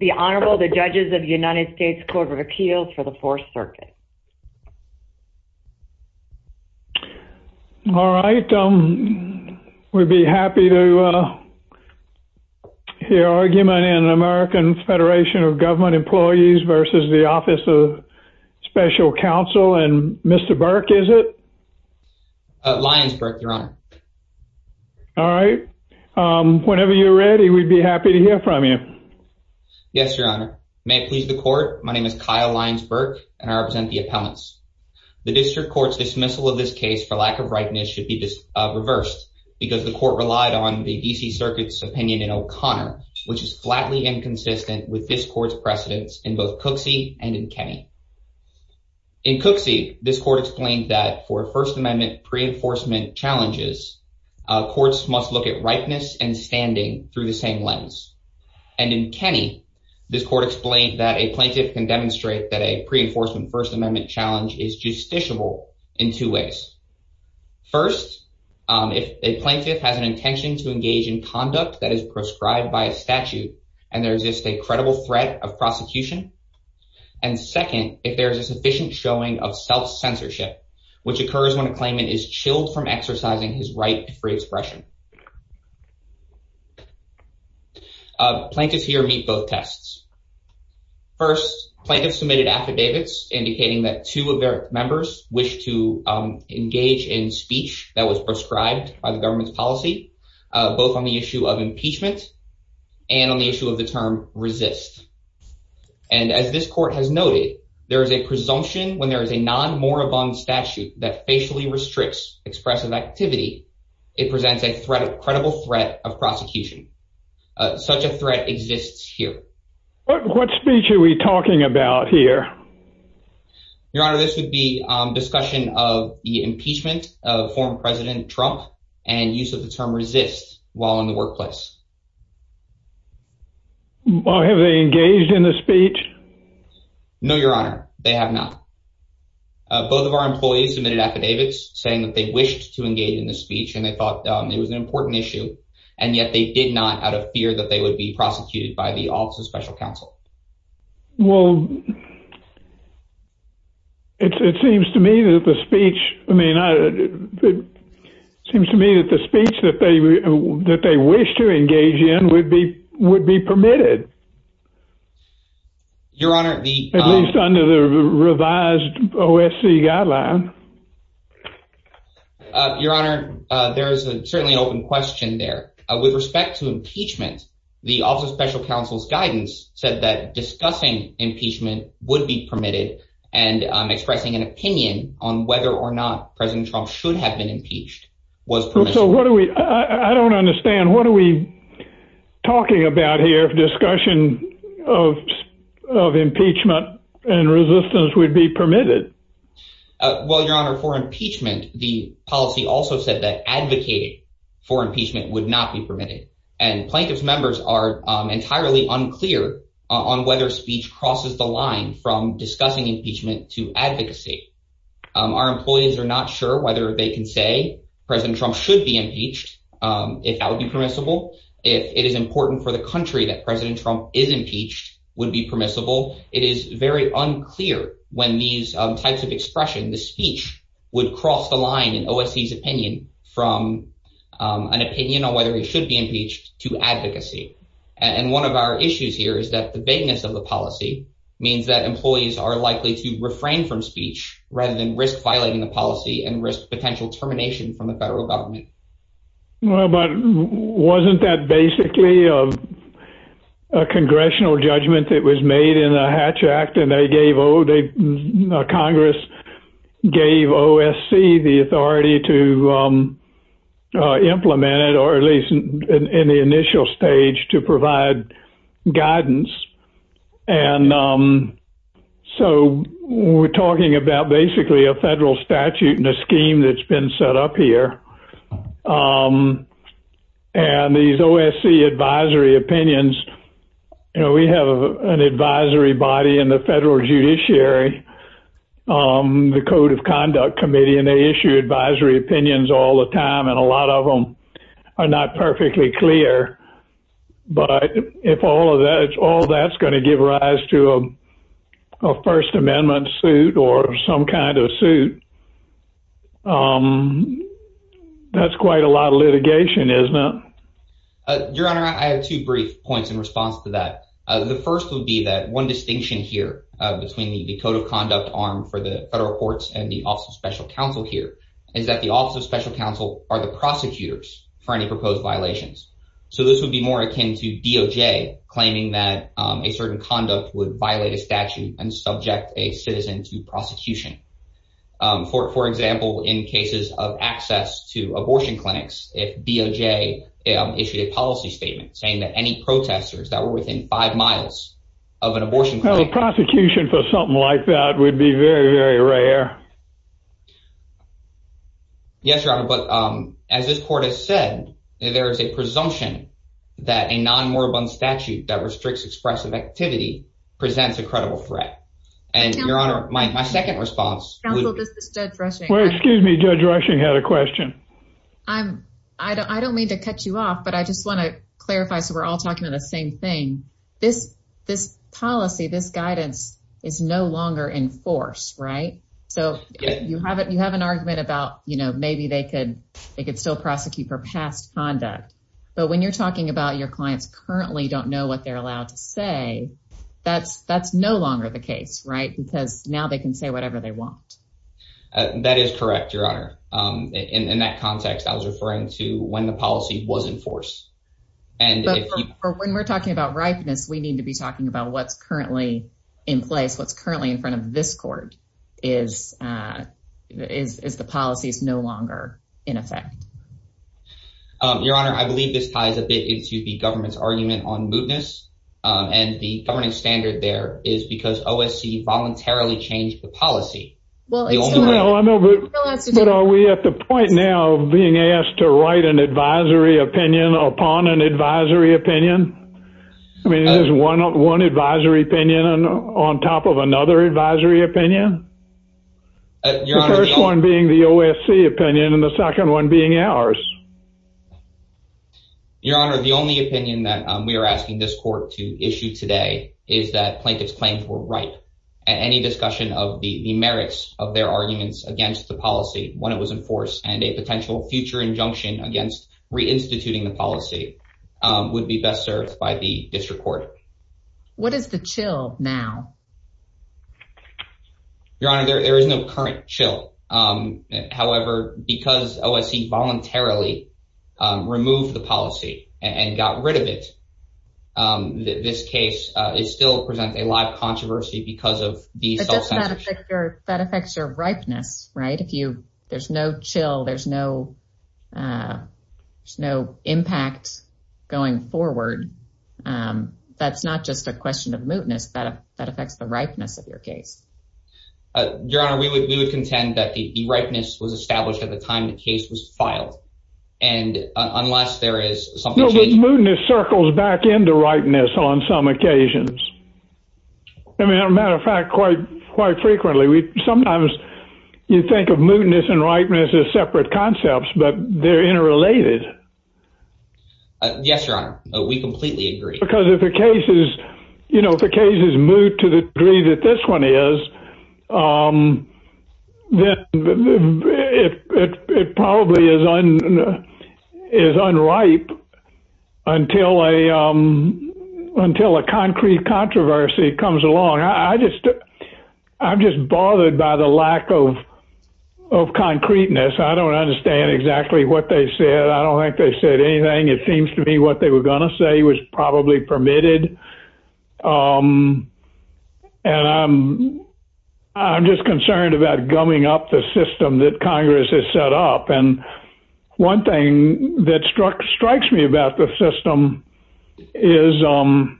and Mr. Burke is it? Lyonsburg, your honor. All right. Whenever you're ready, we'd be happy to hear from you. Thank you. Thank you. Thank you. Yes, your honor. May it please the court. My name is Kyle Lyonsburg and I represent the appellants. The district court's dismissal of this case for lack of ripeness should be reversed because the court relied on the DC Circuit's opinion in O'Connor, which is flatly inconsistent with this court's precedence in both Cooksey and in Kenney. In Cooksey, this court explained that for First Amendment pre-enforcement challenges, courts must look at ripeness and standing through the same lens. And in Kenney, this court explained that a plaintiff can demonstrate that a pre-enforcement First Amendment challenge is justiciable in two ways. First, if a plaintiff has an intention to engage in conduct that is prescribed by a statute and there exists a credible threat of prosecution. And second, if there is a sufficient showing of self-censorship, which occurs when a claimant is chilled from exercising his right to free expression. Plaintiffs here meet both tests. First, plaintiffs submitted affidavits indicating that two of their members wish to engage in speech that was prescribed by the government's policy, both on the issue of impeachment and on the issue of the term resist. And as this court has noted, there is a presumption when there is a non-moribund statute that facially restricts expressive activity. It presents a credible threat of prosecution. Such a threat exists here. What speech are we talking about here? Your Honor, this would be discussion of the impeachment of former President Trump and use of the term resist while in the workplace. Have they engaged in the speech? No, Your Honor, they have not. Both of our employees submitted affidavits saying that they wished to engage in the speech and they thought it was an important issue. And yet they did not out of fear that they would be prosecuted by the Office of Special Counsel. Well. It seems to me that the speech I mean, it seems to me that the speech that they that they wish to engage in would be would be permitted. Your Honor, at least under the revised OSC guideline. Your Honor, there is certainly an open question there with respect to impeachment. The Office of Special Counsel's guidance said that discussing impeachment would be permitted and expressing an opinion on whether or not President Trump should have been impeached was. So what do we I don't understand. What are we talking about here? Discussion of impeachment and resistance would be permitted. Well, Your Honor, for impeachment, the policy also said that advocating for impeachment would not be permitted. And plaintiff's members are entirely unclear on whether speech crosses the line from discussing impeachment to advocacy. Our employees are not sure whether they can say President Trump should be impeached, if that would be permissible, if it is important for the country that President Trump is impeached would be permissible. It is very unclear when these types of expression, the speech would cross the line in OSC's opinion from an opinion on whether he should be impeached to advocacy. And one of our issues here is that the vagueness of the policy means that employees are likely to refrain from speech rather than risk violating the policy and risk potential termination from the federal government. But wasn't that basically a congressional judgment that was made in the Hatch Act and they gave or Congress gave OSC the authority to implement it or at least in the initial stage to provide guidance. And so we're talking about basically a federal statute and a scheme that's been set up here. And these OSC advisory opinions, you know, we have an advisory body in the federal judiciary, the Code of Conduct Committee, and they issue advisory opinions all the time. And a lot of them are not perfectly clear. But if all of that, all that's going to give rise to a First Amendment suit or some kind of suit, that's quite a lot of litigation, isn't it? Your Honor, I have two brief points in response to that. The first would be that one distinction here between the code of conduct arm for the federal courts and the Office of Special Counsel here is that the Office of Special Counsel are the prosecutors for any proposed violations. So this would be more akin to DOJ claiming that a certain conduct would violate a statute and subject a citizen to prosecution. For example, in cases of access to abortion clinics, if DOJ issued a policy statement saying that any protesters that were within five miles of an abortion clinic. Prosecution for something like that would be very, very rare. Yes, Your Honor, but as this court has said, there is a presumption that a non-moribund statute that restricts expressive activity presents a credible threat. And Your Honor, my second response. Excuse me, Judge Rushing had a question. I don't mean to cut you off, but I just want to clarify. So we're all talking about the same thing. This policy, this guidance is no longer in force, right? So you have an argument about, you know, maybe they could still prosecute for past conduct. But when you're talking about your clients currently don't know what they're allowed to say, that's no longer the case. Right, because now they can say whatever they want. That is correct, Your Honor. In that context, I was referring to when the policy was in force. But when we're talking about ripeness, we need to be talking about what's currently in place. What's currently in front of this court is the policy is no longer in effect. Your Honor, I believe this ties a bit into the government's argument on mootness. And the governing standard there is because OSC voluntarily changed the policy. But are we at the point now of being asked to write an advisory opinion upon an advisory opinion? I mean, is one advisory opinion on top of another advisory opinion? The first one being the OSC opinion and the second one being ours. Your Honor, the only opinion that we are asking this court to issue today is that plaintiff's claims were right. Any discussion of the merits of their arguments against the policy when it was in force and a potential future injunction against reinstituting the policy would be best served by the district court. What is the chill now? Your Honor, there is no current chill. However, because OSC voluntarily removed the policy and got rid of it, this case still presents a live controversy because of the self-censorship. That affects your ripeness, right? If there's no chill, there's no impact going forward. That's not just a question of mootness. That affects the ripeness of your case. Your Honor, we would contend that the ripeness was established at the time the case was filed. Mootness circles back into ripeness on some occasions. As a matter of fact, quite frequently. Sometimes you think of mootness and ripeness as separate concepts, but they're interrelated. Yes, Your Honor. We completely agree. Because if the case is moot to the degree that this one is, then it probably is unripe until a concrete controversy comes along. I'm just bothered by the lack of concreteness. I don't understand exactly what they said. I don't think they said anything. It seems to me what they were going to say was probably permitted. I'm just concerned about gumming up the system that Congress has set up. One thing that strikes me about the system is that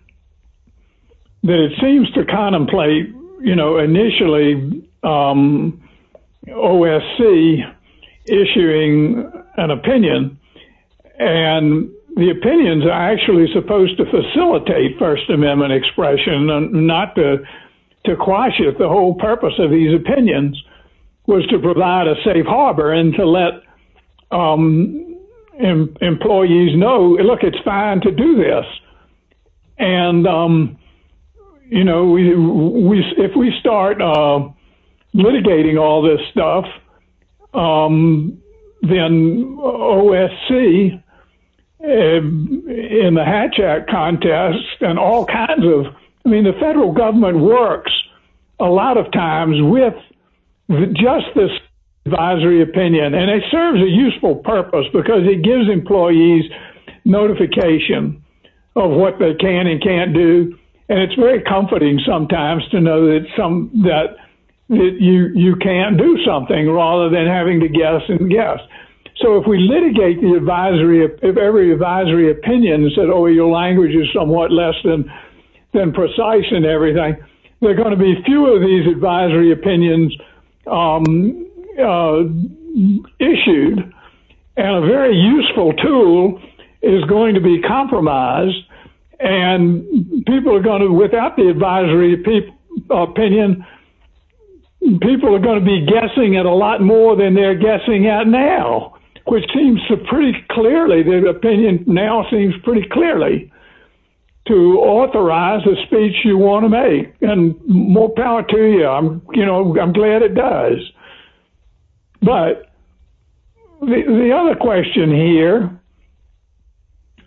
it seems to contemplate, initially, OSC issuing an opinion. The opinions are actually supposed to facilitate First Amendment expression, not to quash it. The whole purpose of these opinions was to provide a safe harbor and to let employees know, look, it's fine to do this. And, you know, if we start litigating all this stuff, then OSC in the Hatch Act contest and all kinds of... I mean, the federal government works a lot of times with just this advisory opinion. And it serves a useful purpose because it gives employees notification of what they can and can't do. And it's very comforting sometimes to know that you can do something rather than having to guess and guess. So if we litigate every advisory opinion and say, oh, your language is somewhat less than precise and everything, there are going to be fewer of these advisory opinions issued. And a very useful tool is going to be compromised. And people are going to, without the advisory opinion, people are going to be guessing at a lot more than they're guessing at now, which seems pretty clearly, the opinion now seems pretty clearly to authorize the speech you want to make. And more power to you. I'm glad it does. But the other question here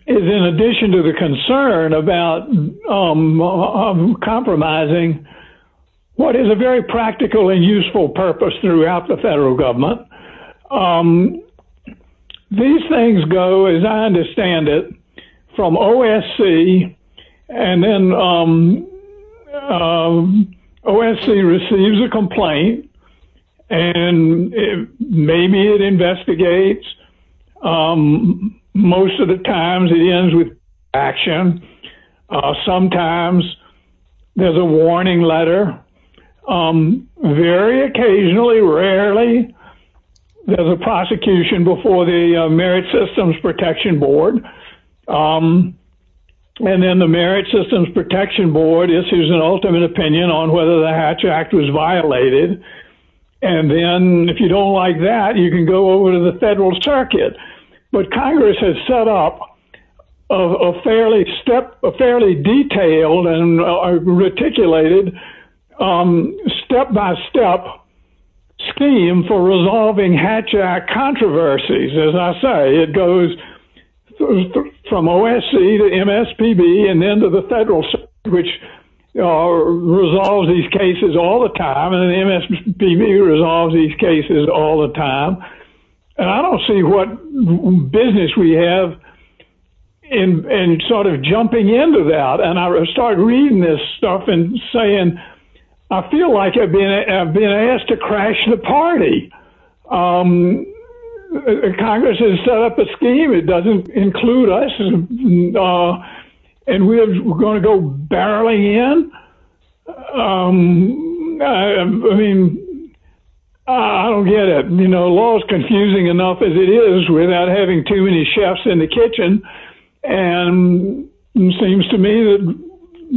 is in addition to the concern about compromising what is a very practical and useful purpose throughout the federal government. These things go, as I understand it, from OSC, and then OSC receives a complaint. And maybe it investigates. Most of the times it ends with action. Sometimes there's a warning letter. Very occasionally, rarely, there's a prosecution before the Merit Systems Protection Board. And then the Merit Systems Protection Board issues an ultimate opinion on whether the Hatch Act was violated. And then if you don't like that, you can go over to the federal circuit. But Congress has set up a fairly detailed and reticulated step-by-step scheme for resolving Hatch Act controversies. As I say, it goes from OSC to MSPB and then to the federal, which resolves these cases all the time. And I don't see what business we have in sort of jumping into that. And I started reading this stuff and saying, I feel like I've been asked to crash the party. Congress has set up a scheme. It doesn't include us. And we're going to go barreling in? I mean, I don't get it. Law is confusing enough as it is without having too many chefs in the kitchen. And it seems to me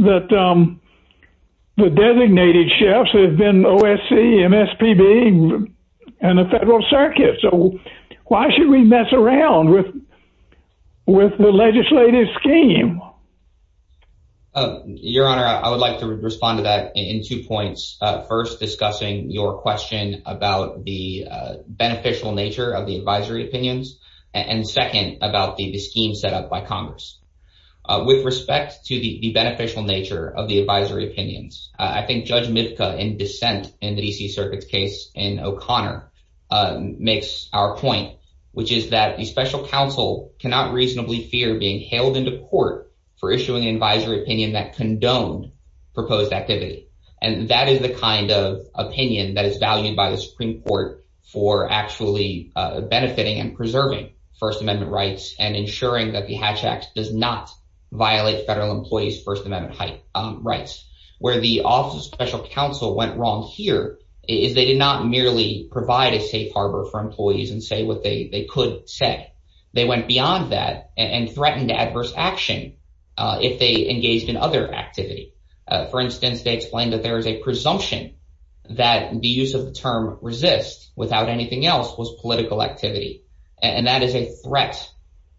that the designated chefs have been OSC, MSPB, and the federal circuit. So why should we mess around with the legislative scheme? Your Honor, I would like to respond to that in two points. First, discussing your question about the beneficial nature of the advisory opinions. And second, about the scheme set up by Congress. With respect to the beneficial nature of the advisory opinions, I think Judge Mitka in dissent in the D.C. Circuit's case in O'Connor makes our point, which is that a special counsel cannot reasonably fear being hailed into court for issuing an advisory opinion that condoned proposed activity. And that is the kind of opinion that is valued by the Supreme Court for actually benefiting and preserving First Amendment rights and ensuring that the Hatch Act does not violate federal employees' First Amendment rights. Where the Office of Special Counsel went wrong here is they did not merely provide a safe harbor for employees and say what they could say. They went beyond that and threatened adverse action if they engaged in other activity. For instance, they explained that there is a presumption that the use of the term resist without anything else was political activity. And that is a threat,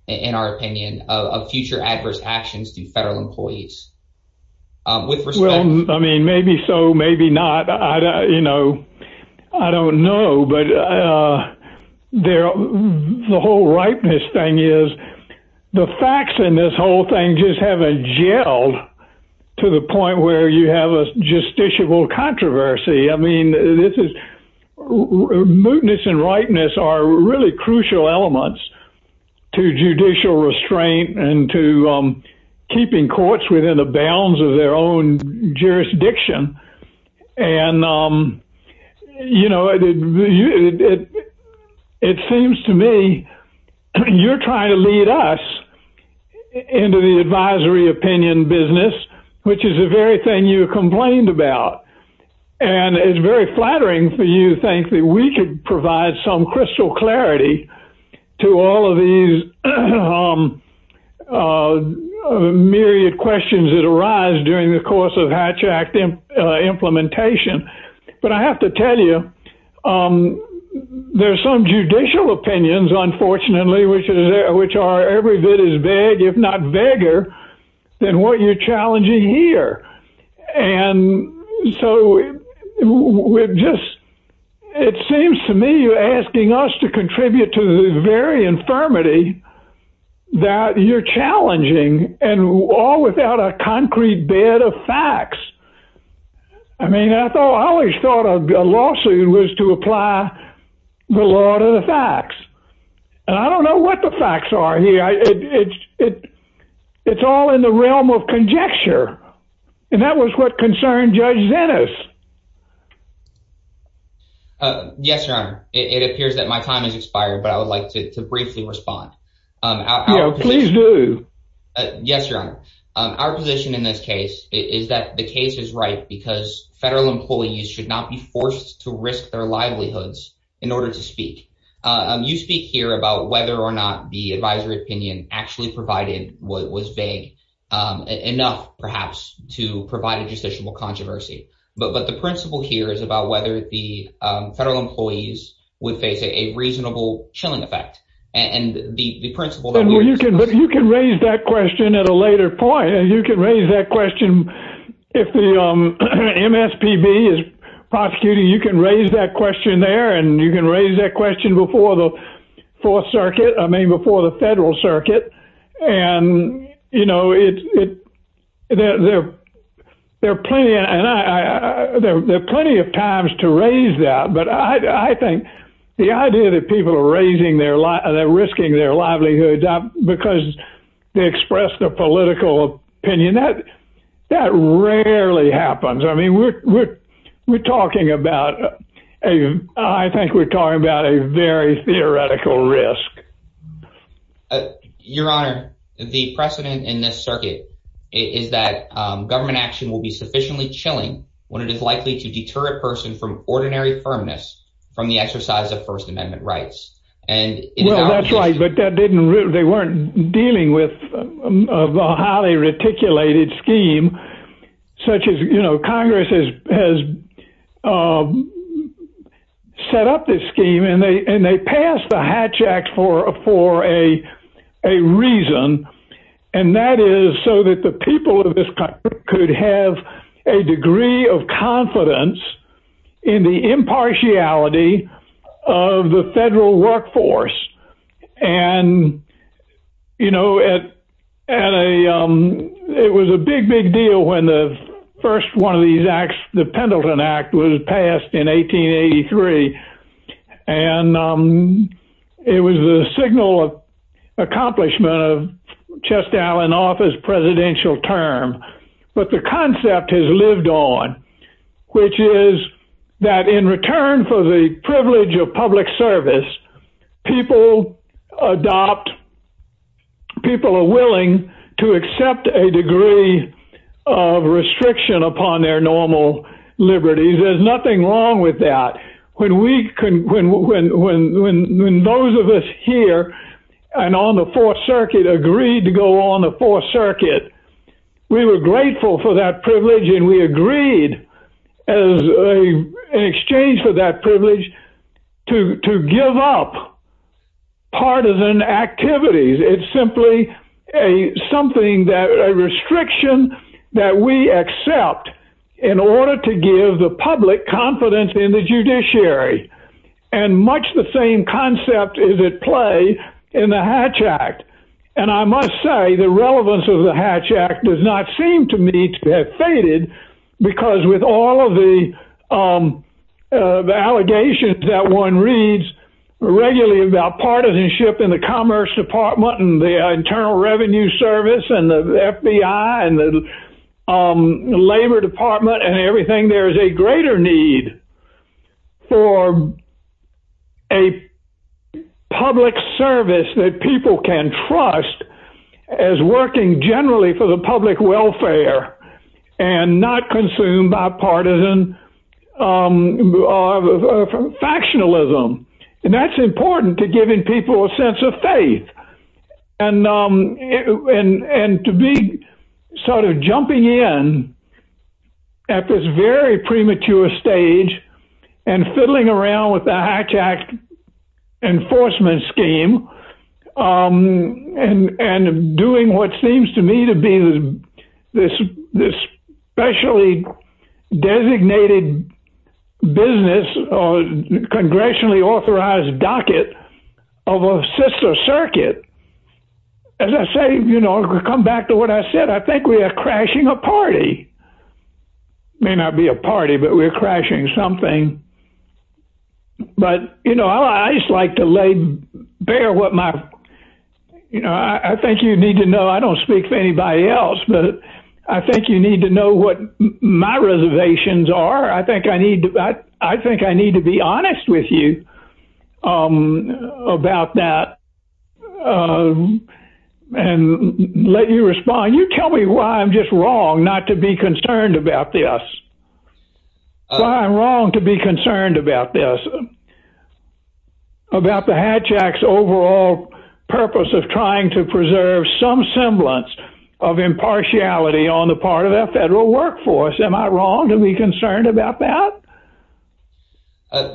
in our opinion, of future adverse actions to federal employees. With respect... Well, I mean, maybe so, maybe not. I don't know. But the whole ripeness thing is, the facts in this whole thing just haven't gelled to the point where you have a justiciable controversy. I mean, this is... Mootness and ripeness are really crucial elements to judicial restraint and to keeping courts within the bounds of their own jurisdiction. And, you know, it seems to me you're trying to lead us into the advisory opinion business, which is the very thing you complained about. And it's very flattering for you to think that we could provide some crystal clarity to all of these myriad questions that arise during the course of Hatch Act implementation. But I have to tell you, there are some judicial opinions, unfortunately, which are every bit as vague, if not vaguer, than what you're challenging here. And so we're just... It seems to me you're asking us to contribute to the very infirmity that you're challenging, and all without a concrete bed of facts. I mean, I always thought a lawsuit was to apply the law to the facts. And I don't know what the facts are here. It's all in the realm of conjecture. And that was what concerned Judge Zenas. Yes, Your Honor. It appears that my time has expired, but I would like to briefly respond. Please do. Yes, Your Honor. Our position in this case is that the case is right because federal employees should not be forced to risk their livelihoods in order to speak. You speak here about whether or not the advisory opinion actually provided what was vague enough, perhaps, to provide a justiciable controversy. But the principle here is about whether the federal employees would face a reasonable chilling effect. And the principle that we were discussing... But you can raise that question at a later point. You can raise that question if the MSPB is prosecuting. You can raise that question there, and you can raise that question before the Fourth Circuit, I mean, before the federal circuit. And, you know, there are plenty of times to raise that. But I think the idea that people are risking their livelihoods because they expressed a political opinion, that rarely happens. I mean, we're talking about... I think we're talking about a very theoretical risk. Your Honor, the precedent in this circuit is that government action will be sufficiently chilling when it is likely to deter a person from ordinary firmness from the exercise of First Amendment rights. Well, that's right, but they weren't dealing with a highly reticulated scheme, such as, you know, Congress has set up this scheme, and they passed the Hatch Act for a reason. And that is so that the people of this country could have a degree of confidence in the impartiality of the federal workforce. And, you know, it was a big, big deal when the first one of these acts, the Pendleton Act, was passed in 1883. And it was the signal of accomplishment of Chestall and Offa's presidential term. But the concept has lived on, which is that in return for the privilege of public service, people adopt, people are willing to accept a degree of restriction upon their normal liberties. There's nothing wrong with that. When those of us here and on the Fourth Circuit agreed to go on the Fourth Circuit, we were grateful for that privilege, and we agreed in exchange for that privilege to give up partisan activities. It's simply a restriction that we accept in order to give the public confidence in the judiciary. And much the same concept is at play in the Hatch Act. And I must say, the relevance of the Hatch Act does not seem to me to have faded because with all of the allegations that one reads regularly about partisanship in the Commerce Department and the Internal Revenue Service and the FBI and the Labor Department and everything, there is a greater need for a public service that people can trust as working generally for the public welfare and not consume bipartisan factionalism. And that's important to giving people a sense of faith and to be sort of jumping in at this very premature stage and fiddling around with the Hatch Act enforcement scheme and doing what seems to me to be a sexually designated business or congressionally authorized docket of a sister circuit. As I say, you know, come back to what I said, I think we are crashing a party. May not be a party, but we're crashing something. But, you know, I just like to lay bare what my, you know, I think you need to know, my reservations are, I think I need to, I think I need to be honest with you about that and let you respond. You tell me why I'm just wrong not to be concerned about this. I'm wrong to be concerned about this, about the Hatch Act's overall purpose of trying to preserve some semblance of impartiality on the part of our federal workforce. Am I wrong to be concerned about that?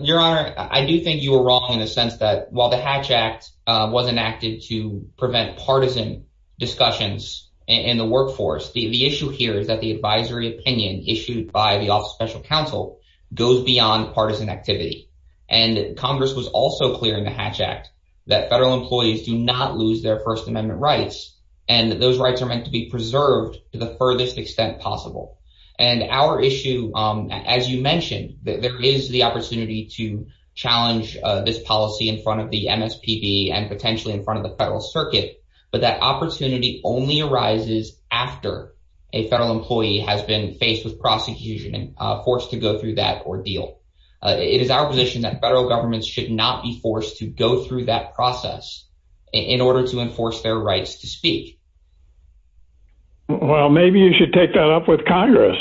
Your Honor, I do think you were wrong in the sense that while the Hatch Act was enacted to prevent partisan discussions in the workforce, the issue here is that the advisory opinion issued by the Office of Special Counsel goes beyond partisan activity. And Congress was also clear in the Hatch Act that federal employees do not lose their First Amendment rights. And those rights are meant to be preserved to the furthest extent possible. And our issue, as you mentioned, there is the opportunity to challenge this policy in front of the MSPB and potentially in front of the federal circuit. But that opportunity only arises after a federal employee has been faced with prosecution and forced to go through that ordeal. It is our position that federal governments should not be forced to go through that process in order to enforce their rights to speak. Well, maybe you should take that up with Congress.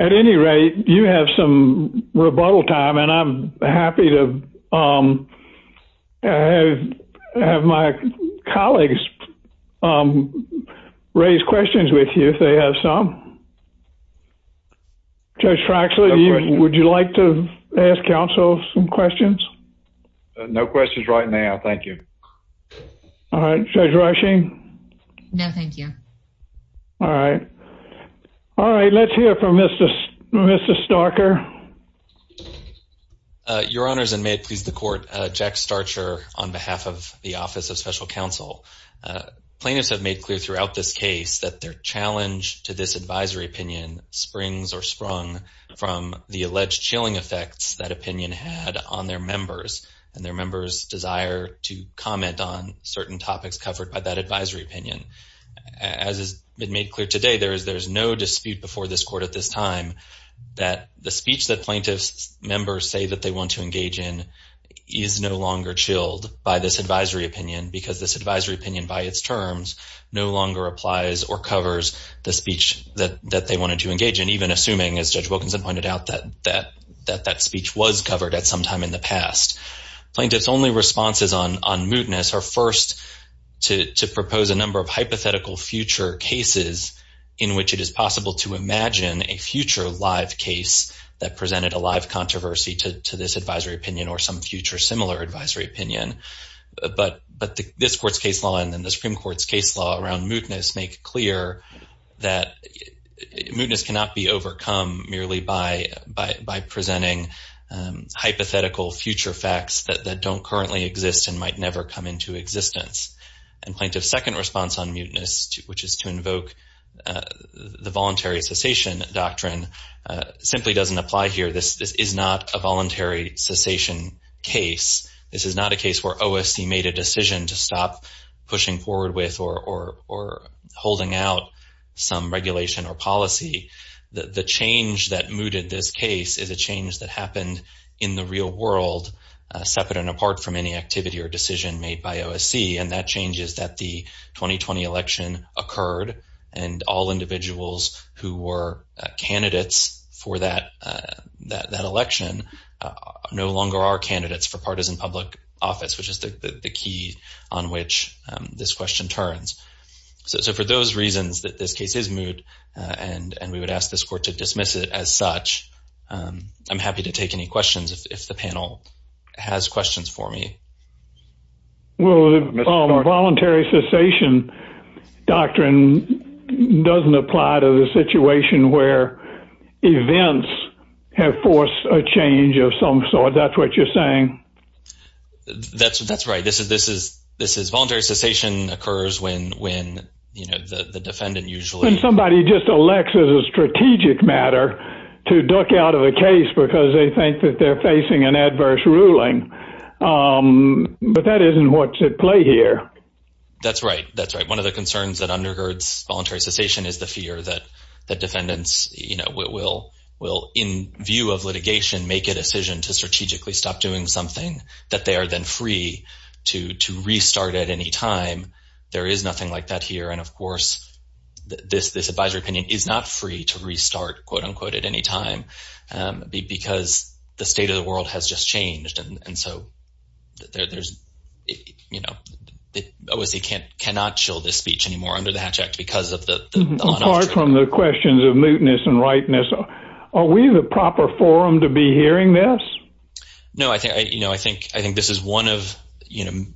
At any rate, you have some rebuttal time and I'm happy to have my colleagues raise questions with you if they have some. Judge Fraxley, would you like to ask counsel some questions? No questions right now. Thank you. All right. Judge Rushing? No, thank you. All right. All right. Let's hear from Mr. Mr. Stalker. Your Honors, and may it please the court, Jack Starcher on behalf of the Office of Special Counsel. Plaintiffs have made clear throughout this case that their challenge to this advisory opinion springs or sprung from the alleged chilling effects that opinion had on their members and their members desire to comment on certain topics covered by that advisory opinion. As has been made clear today, there is there is no dispute before this court at this time that the speech that plaintiffs members say that they want to engage in is no longer chilled by this advisory opinion because this advisory opinion by its terms no longer applies or covers the speech that they wanted to engage in, even assuming, as Judge Wilkinson pointed out, that that that that speech was covered at some time in the past. Plaintiffs only responses on on mootness are first to to propose a number of hypothetical future cases in which it is possible to imagine a future live case that presented a live controversy to to this advisory opinion or some future similar advisory opinion. But but this court's case law and then the Supreme Court's case law around mootness make clear that mootness cannot be overcome merely by by by presenting hypothetical future facts that that don't currently exist and might never come into existence. And plaintiff's second response on mootness, which is to invoke the voluntary cessation doctrine, simply doesn't apply here. This is not a voluntary cessation case. This is not a case where OSC made a decision to stop pushing forward with or or or holding out some regulation or policy. The change that mooted this case is a change that happened in the real world, separate and apart from any activity or decision made by OSC. And that change is that the 2020 election occurred and all individuals who were candidates for that that election no longer are candidates for partisan public office, which is the key on which this question turns. So for those reasons that this case is moot and and we would ask this court to dismiss it as such, I'm happy to take any questions if the panel has questions for me. Well, voluntary cessation doctrine doesn't apply to the situation where events have forced a change of some sort. That's what you're saying. That's that's right. This is this is this is voluntary cessation occurs when when the defendant usually somebody just elects as a strategic matter to duck out of the case because they think that they're facing an adverse ruling. But that isn't what's at play here. That's right. That's right. One of the concerns that undergirds voluntary cessation is the fear that the defendants you know will will in view of litigation make a decision to strategically stop doing something that they are then free to to restart at any time. There is nothing like that here. And of course this this advisory opinion is not free to restart quote unquote at any time because the state of the world has just changed. And so there is you know it obviously can't cannot show this speech anymore under the Hatch Act because of the part from the questions of mootness and rightness. Are we the proper forum to be hearing this? No I think I you know I think I think this is one of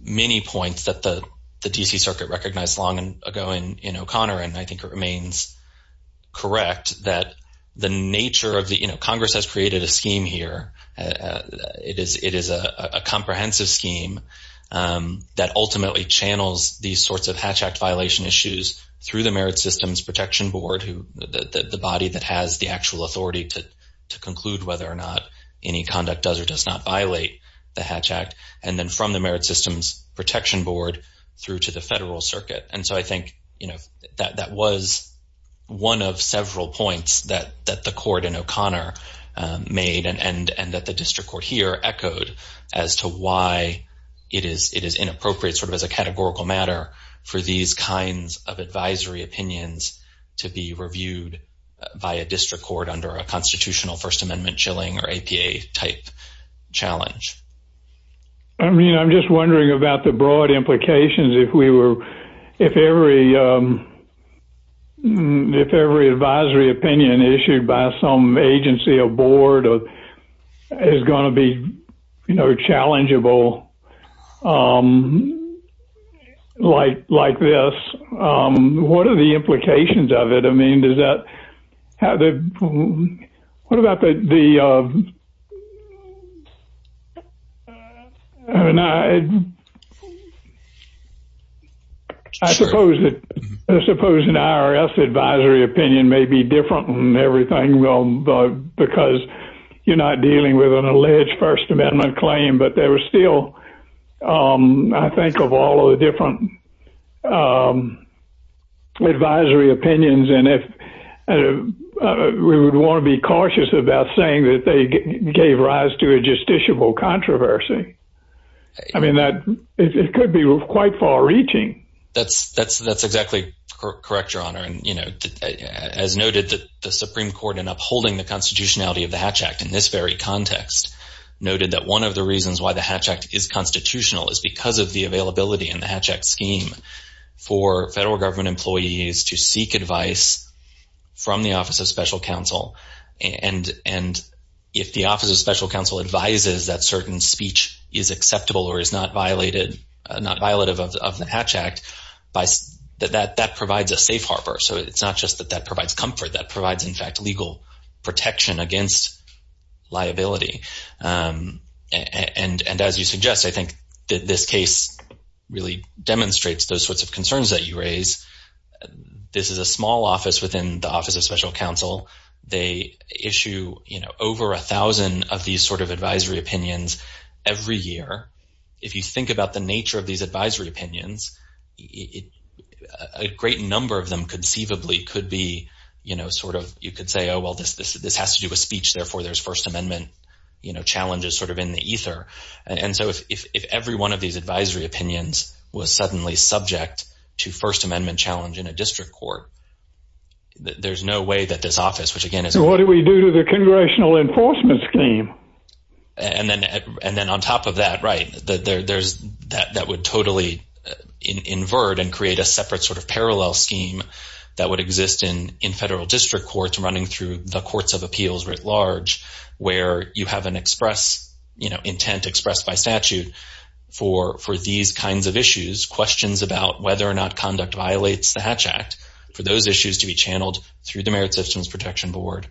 many points that the D.C. Circuit recognized long ago and in O'Connor and I think it remains correct that the nature of the Congress has created a scheme here. It is it is a comprehensive scheme that ultimately channels these sorts of Hatch Act violation issues through the Merit Systems Protection Board who the body that has the actual authority to to conclude whether or not any conduct does or does not violate the Hatch Act and then from the Merit Systems Protection Board through to the federal circuit. And so I think you know that that was one of several points that that the court in O'Connor made and and and that the district court here echoed as to why it is it is inappropriate sort of as a categorical matter for these kinds of advisory opinions to be reviewed by a district court under a constitutional First Amendment chilling or APA type challenge. I mean I'm just wondering about the broad implications if we were if every if every advisory opinion issued by some agency or board or is going to be you know challengeable like like this. What are the implications of it? I mean does that have the what about the the and I suppose that I suppose an IRS advisory opinion may be different than everything well because you're not dealing with an alleged First Amendment claim but there was still I think of all the different advisory opinions and if we would want to be cautious about saying that they gave rise to a justiciable controversy. I mean that it could be quite far-reaching. That's that's that's exactly correct Your Honor and you know as noted that the Supreme Court in upholding the constitutionality of the Hatch Act in this very instance why the Hatch Act is constitutional is because of the availability in the Hatch Act scheme for federal government employees to seek advice from the Office of Special Counsel and and if the Office of Special Counsel advises that certain speech is acceptable or is not violated not violative of the Hatch Act by that that provides a safe harbor so it's not just that that provides comfort that provides in fact legal protection against liability and and as you suggest I think that this case really demonstrates those sorts of concerns that you raise. This is a small office within the Office of Special Counsel. They issue you know over a thousand of these sort of advisory opinions every year. If you think about the nature of these advisory opinions it a great number of them conceivably could be you know sort of you could say oh well this this this has to do with speech therefore there's First Amendment you know challenges sort of in the ether and so if if every one of these advisory opinions was suddenly subject to First Amendment challenge in a district court there's no way that this office which again is what do we do to the congressional enforcement scheme and then and then on top of that right that there there's that that would totally invert and create a separate sort of parallel scheme that would exist in in federal district courts running through the courts of appeals writ large where you have an express you know intent expressed by statute for for these kinds of issues questions about whether or not conduct violates the Hatch Act for those issues to be channeled through the Merit Systems Protection Board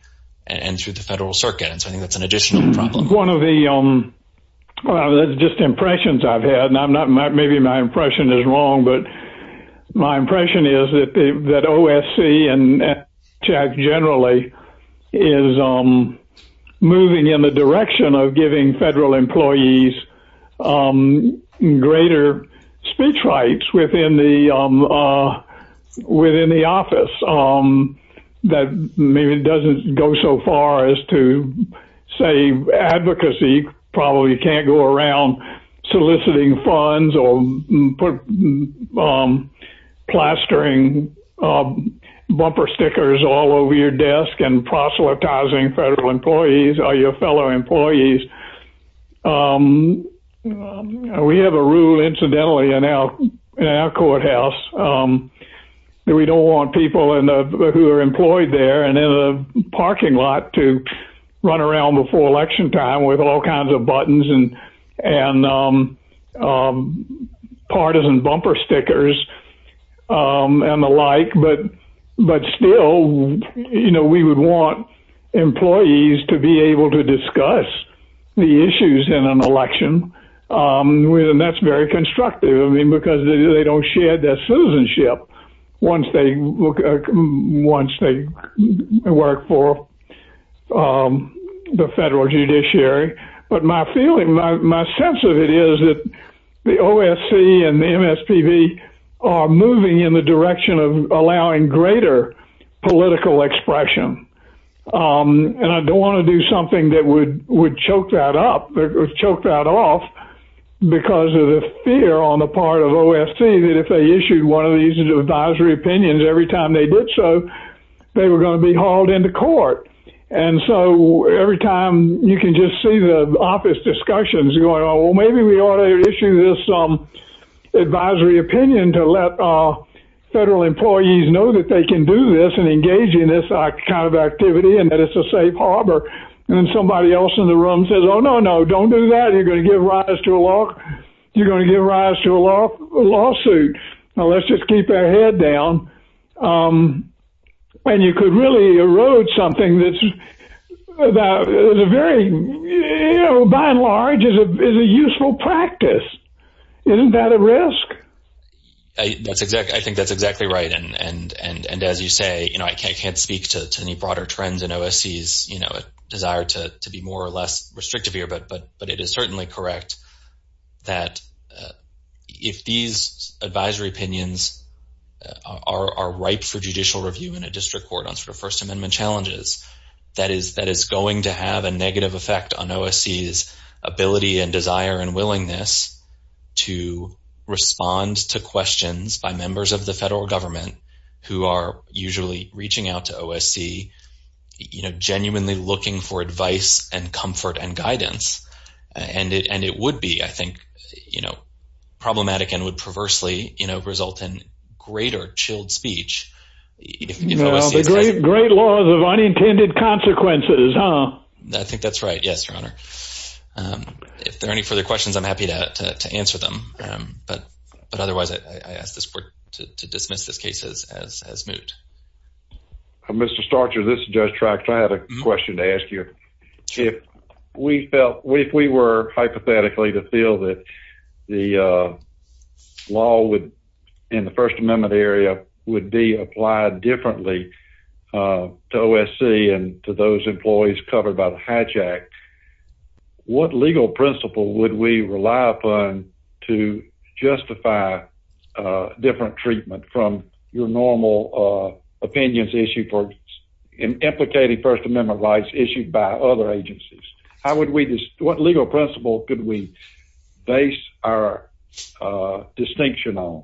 and through the federal circuit and so I think that's an additional problem. One of the just impressions I've had and I'm not maybe my impression is wrong but my impression is that that OSC and Hatch Act generally is moving in the direction of giving federal employees greater speech rights within the within the office that maybe it doesn't go so far as to say advocacy probably can't go around soliciting funds or plastering bumper stickers all over your desk and proselytizing federal employees or your fellow employees. We have a rule incidentally in our courthouse that we don't want people who are employed there and in the parking lot to run around before election time with all kinds of buttons and partisan bumper stickers and the like but still you know we would want employees to be able to discuss the issues in an election and that's very constructive because they don't share their citizenship once they work for the federal judiciary but my feeling my sense of it is that the OSC and the MSPB are moving in the direction of allowing greater political expression. And I don't want to do something that would choke that up or choke that off because of the fear on the part of OSC that if they issued one of these advisory opinions every time they did so they were going to be hauled into court and so every time you can just see the office discussions going on well maybe we ought to issue this advisory opinion to let federal employees know that they can do this and engage in this kind of activity and that it's a safe harbor and somebody else in the room says oh no no don't do that you're going to give rise to a lawsuit. Now let's just keep our head down. And you could really erode something that's a very you know by and large is a useful practice. Isn't that a risk? I think that's exactly right and as you say you know I can't speak to any broader trends in OSC's desire to be more or less restrictive here but it is certainly correct that if these advisory opinions are ripe for judicial review in a district court on sort of first amendment challenges that is going to have a negative effect on OSC's ability and desire and willingness to respond to questions by members of the federal government who are usually reaching out to OSC you know genuinely looking for advice and comfort and guidance. And it would be I think you know problematic and would perversely you know result in greater chilled speech. The great laws of unintended consequences huh? I think that's right yes your honor. If there are any further questions I'm happy to answer them but otherwise I will leave the floor to Mr. Starcher. I have a question to ask you. If we were hypothetically to feel that the law would in the first amendment area would be applied differently to OSC and to those employees covered by the Hatch Act what legal principle would we rely upon to justify different treatment from your normal opinions issue for implicating first amendment rights issued by other agencies? What legal principle could we base our distinction on?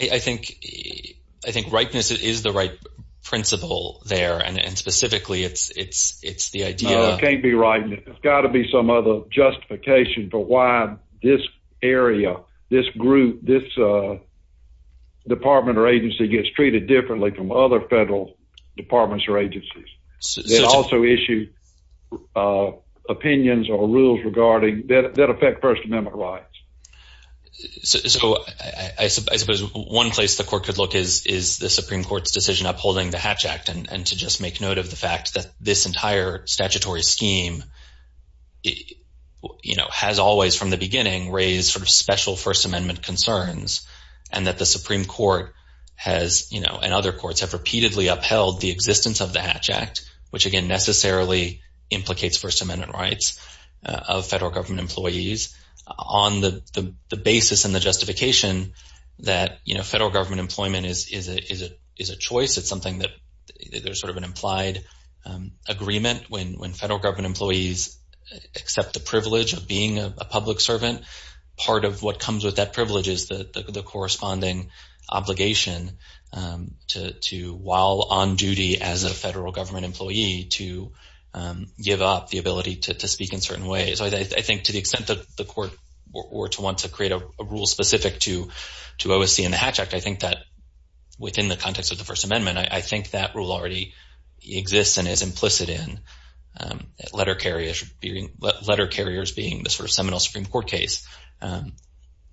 I think rightness is the right principle there and specifically it's the idea. It can't be rightness. It's got to be some other justification for why this area this group this department or agency gets treated differently from other federal departments or agencies. They also issue opinions or rules regarding that affect first amendment rights. So I suppose one place the court could look is the Supreme Court's decision upholding the Hatch Act and this entire statutory scheme has always from the beginning raised special first amendment concerns and that the Supreme Court has and other courts have repeatedly upheld the existence of the Hatch Act which necessarily implicates first amendment rights of federal government employees on the basis and justification that federal government employment is a choice. There's sort of an implied agreement when federal government employees accept the privilege of being a public servant. Part of what comes with that privilege is the corresponding obligation to while on duty as a federal government employee to give up the ability to speak in certain ways. I think to the extent the court wants to create a rule specific to OSC and the Hatch Act I think within the context of the first amendment I think that rule already exists and is implicit in letter carriers being the seminal Supreme Court case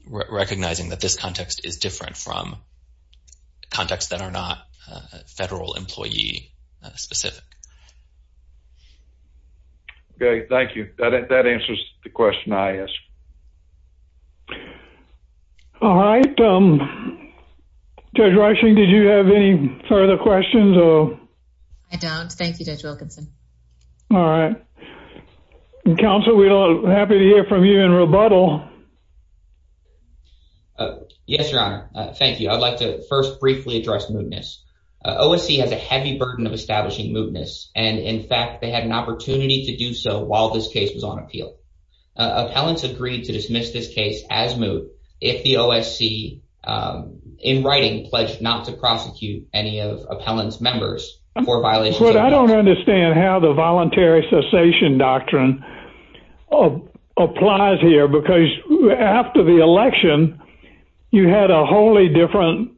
recognizing that this context is different from contexts that are not federal employee specific. Thank you. That answers the question I asked. All right. Judge Reichling, did you have any further questions? I don't. Thank you, Judge Wilkinson. All right. Counsel, we are happy to in rebuttal. Yes, Your Honor. Thank you. I would like to first briefly address mootness. OSC has a heavy burden of establishing mootness and in fact they had an opportunity to do so while this case was on appeal. Appellants agreed to dismiss this case as moot if the OSC in writing pledged not to prosecute any of appellants members. I don't understand how the voluntary cessation doctrine applies here because after the election you had a wholly different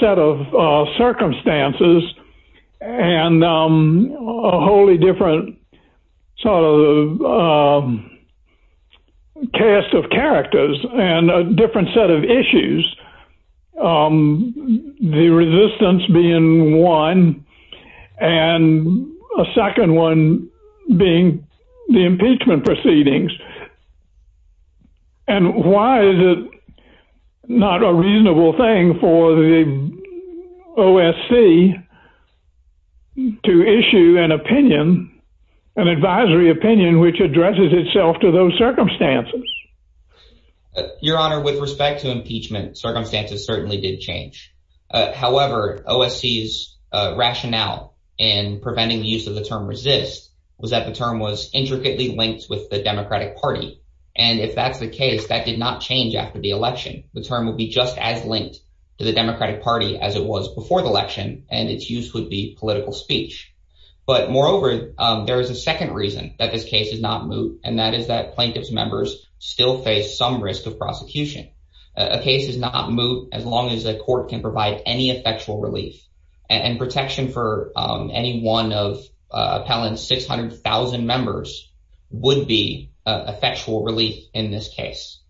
set of circumstances and a wholly different sort of cast of characters and a different set of The resistance being one and a second one being the impeachment proceedings. And why is it not a reasonable argument to dismiss this case as It's a reasonable thing for the OSC to issue an opinion, an advisory opinion which addresses itself to those circumstances. honor, with respect to impeachment circumstances certainly did change. However, OSC's rationale in preventing the use of the term resist was that the use of term was not appropriate to the democratic party as it was before the election and its use would be political speech. Moreover, there is a second reason that this case is not moot and that is that plaintiff's members still face some risk of prosecution. A case is not moot as long as a court can provide any effectual relief and protection for any one of appellant's 600,000 members would be effectual relief in this case.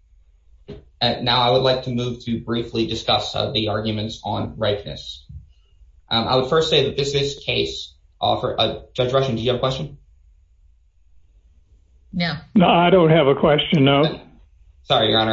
Now I would like to move to briefly discuss the arguments on rightness. I would first say that this is case offered by the Supreme Court. I would like to say that the is right. And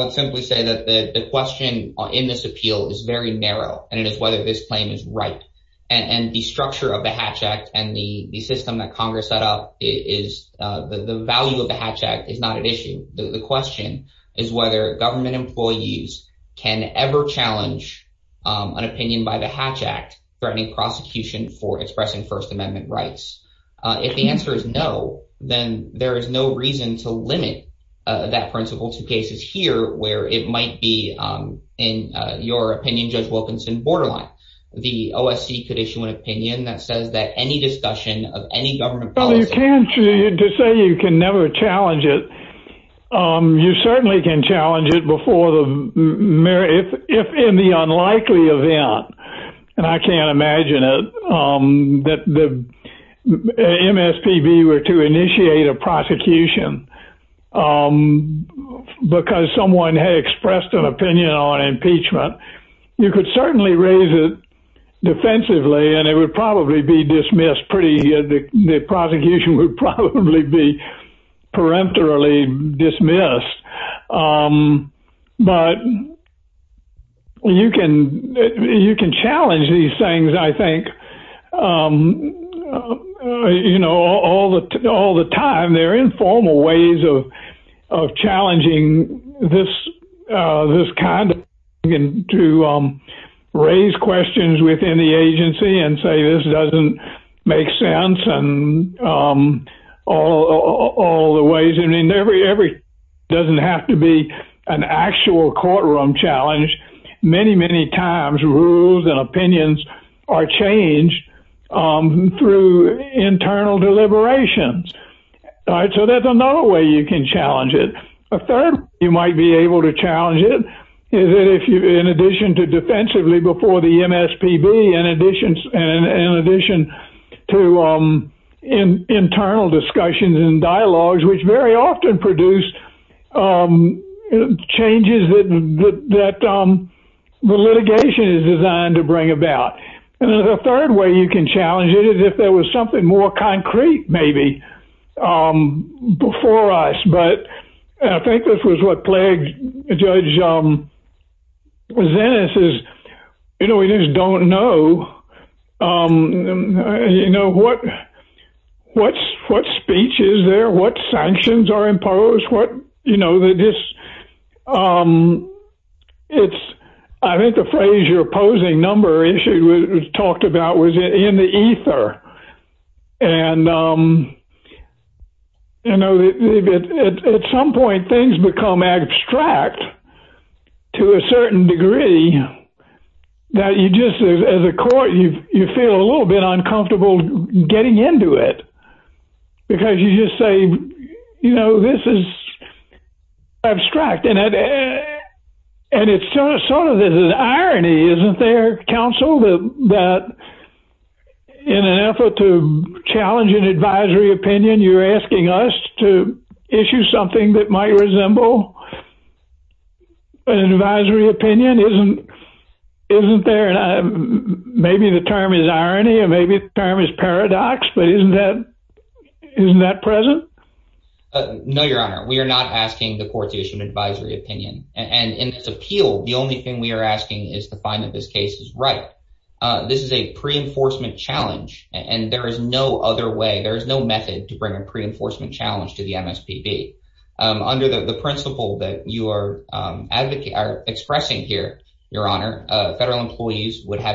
I would simply say that the question in this appeal is very narrow and it is whether this claim is right. And the structure of the hatch act and the system that Congress set up, the value of the hatch act is not an issue. The question is whether government employees can ever challenge an opinion by the hatch act threatening prosecution for expressing first amendment rights. If the answer is no, then there is no reason to limit that principle to cases here where it might be, in your opinion, Judge Wilkinson borderline. The OSC could issue an opinion that says that any discussion of any government policy can never challenge it. You certainly can challenge it if in the unlikely event, and I can't imagine it, that the MSPB were to initiate a prosecution because someone had expressed an opinion on impeachment, you could certainly raise it defensively and it would probably be dismissed pretty easily. The prosecution would probably be peremptorily dismissed. But you can challenge these things, I think. You know, all the time, there are informal ways of challenging this kind of thing and to raise questions within the agency and say this doesn't make sense. It doesn't have to be an actual courtroom challenge. Many, many times rules and opinions are changed through internal deliberations. So that's another way you can challenge it. A third way you might be able to challenge it is if in addition to defensively before the MSPB and in addition to internal discussions and dialogues, which very often produce changes that the litigation is designed to bring about. And the third way you can challenge it is if there was something more concrete maybe before us. But I think this was what plagued Judge Zenes is we just don't know what speech is there, what sanctions are imposed, what, you know, the it's I think the phrase your opposing number issue was talked about was in the ether. And, you know, at some point things become abstract to a certain degree that you just as a court you feel a little bit uncomfortable getting into it. Because you just say, you know, this is abstract. And it's sort of this is irony, isn't there, counsel, that in an effort to challenge an advisory opinion you are asking us to issue something that might resemble an advisory opinion. Maybe the term is irony or maybe the term is paradox, but isn't that present? No, Your Honor, we are not asking the court to issue an advisory opinion. And in its appeal the only thing we are asking is to find that this case is right. This is a pre set And the court has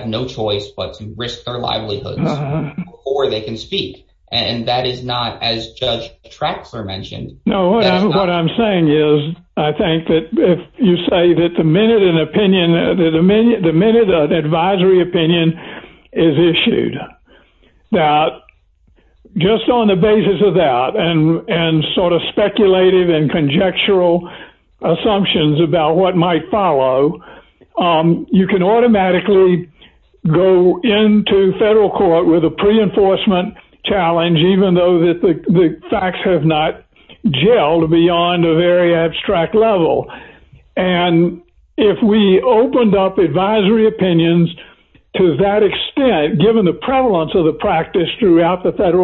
no choice but to risk their livelihoods before they can speak. And that is not as Judge Traxler mentioned. No, what I'm saying is I think if you say the minute an advisory opinion is issued, that just on the basis of that and sort of speculative and conjectural assumptions about what might follow, you can automatically go into federal court with a pre-enforcement challenge even though the facts have not gelled beyond a very abstract level. And if we opened up advisory opinions to that extent, given the prevalence of the practice throughout the country,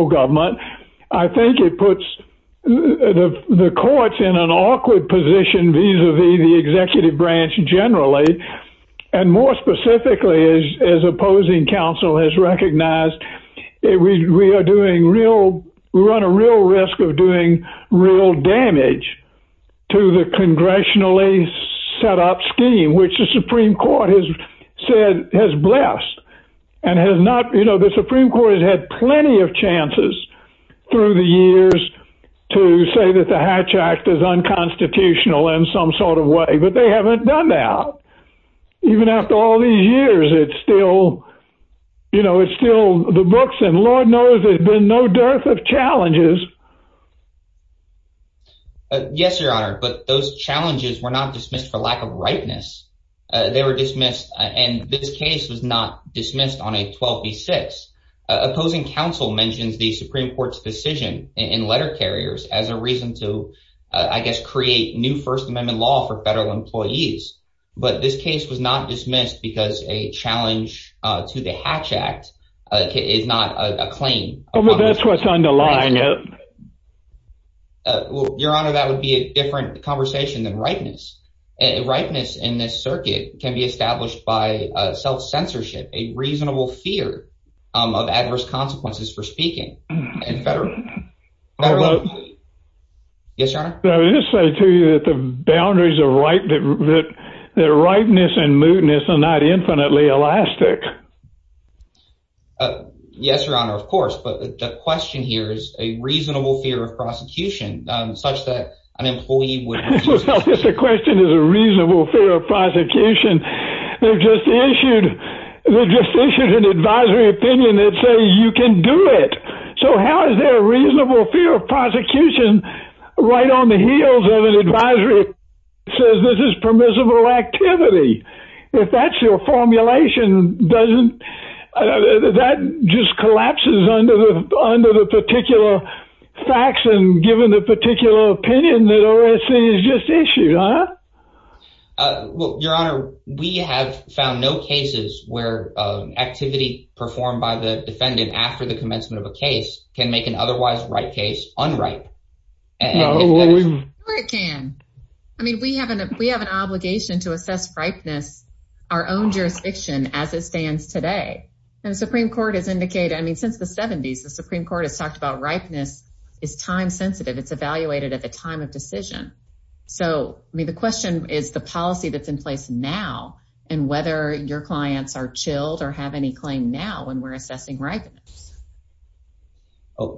I think it puts the an awkward position vis-a-vis the executive branch generally and more specifically as opposing counsel has recognized, we are doing real, we run a real risk of doing real damage to the congressionally set-up scheme, which the Supreme Court has said, has blessed and has not, you know, the Supreme Court has had plenty of chances through the years to say that the Hatch Act is unconstitutional in some sort of way, but they haven't done that. Even after all these years, it's still, you know, it's still the books and Lord knows there's been no dearth of challenges. Yes, Your Honor, but those challenges were not dismissed for lack of rightness. They were dismissed and this case was not dismissed on a 12B6. Opposing counsel mentions the Supreme Court's decision in letter carriers as a reason to, I guess, create new First Amendment law for federal employees, but this case was not dismissed because a challenge to the Hatch Act is not a claim. Well, that's what's underlying it. Your Honor, that would be a different conversation than rightness. Rightness in this circuit can be established by self-censorship, a reasonable fear of adverse consequences for speaking and federal employees. Yes, Your Honor? Let me just say to you that the boundaries of rightness and mootness are not infinitely elastic. Yes, Your Honor, of course, but the question here is a reasonable fear of prosecution such that an employee would Well, if the question is a reasonable fear of prosecution, they've just issued an advisory opinion that says you can do it. So how is there a reasonable fear of prosecution right on the heels of an advisory that says this is permissible activity? If that's your formulation, that just collapses under the particular facts and given the particular opinion that OSC has just issued, huh? Well, Your Honor, we have found no cases where activity performed by the defendant after the commencement of a case can make an otherwise right case unripe. No, it can. I mean, we have an obligation to assess ripeness our own jurisdiction as it stands today. And the Supreme Court has indicated, I mean, since the 70s, the Supreme Court has talked about ripeness is time sensitive. It's evaluated at the time of case. So,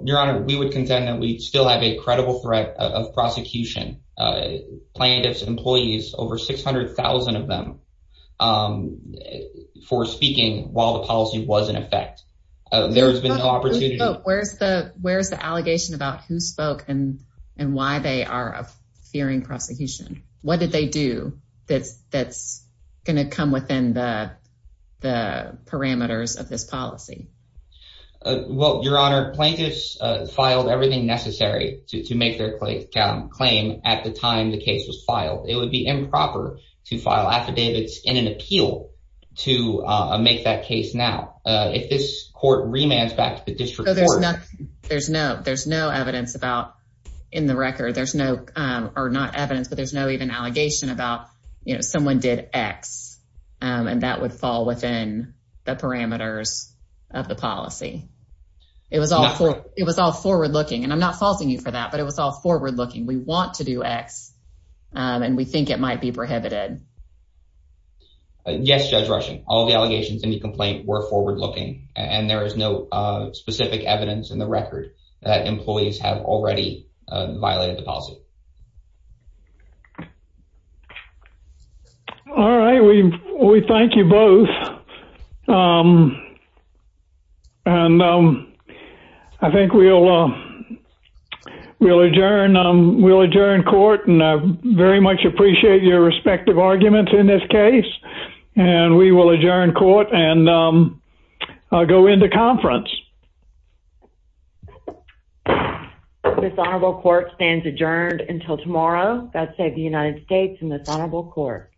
Your Honor, we would contend that we still have a credible threat of prosecution. Plaintiffs, employees, over 600,000 of them, um, for speaking while the policy was in effect. There has been no opportunity to Where's the allegation about who did about the policy? Well, Your Honor, plaintiffs filed everything necessary to make their claim at the time the case was filed. It would be improper to file affidavits in an appeal to make that case now. If this court remands back to the district court going to file an appeal to make that case now. So, Your Honor, we would contend that we still have a credible threat of violation policy. We would like to make evidence in the that employees have already violated the policy. All right. We thank you both. Um, and, um, I think we'll, um, we'll adjourn court and I very much appreciate your respective arguments in this case. And we will adjourn court and, um, go into conference. This Honorable Court stands adjourned until tomorrow. God save the United States and this Honorable Court.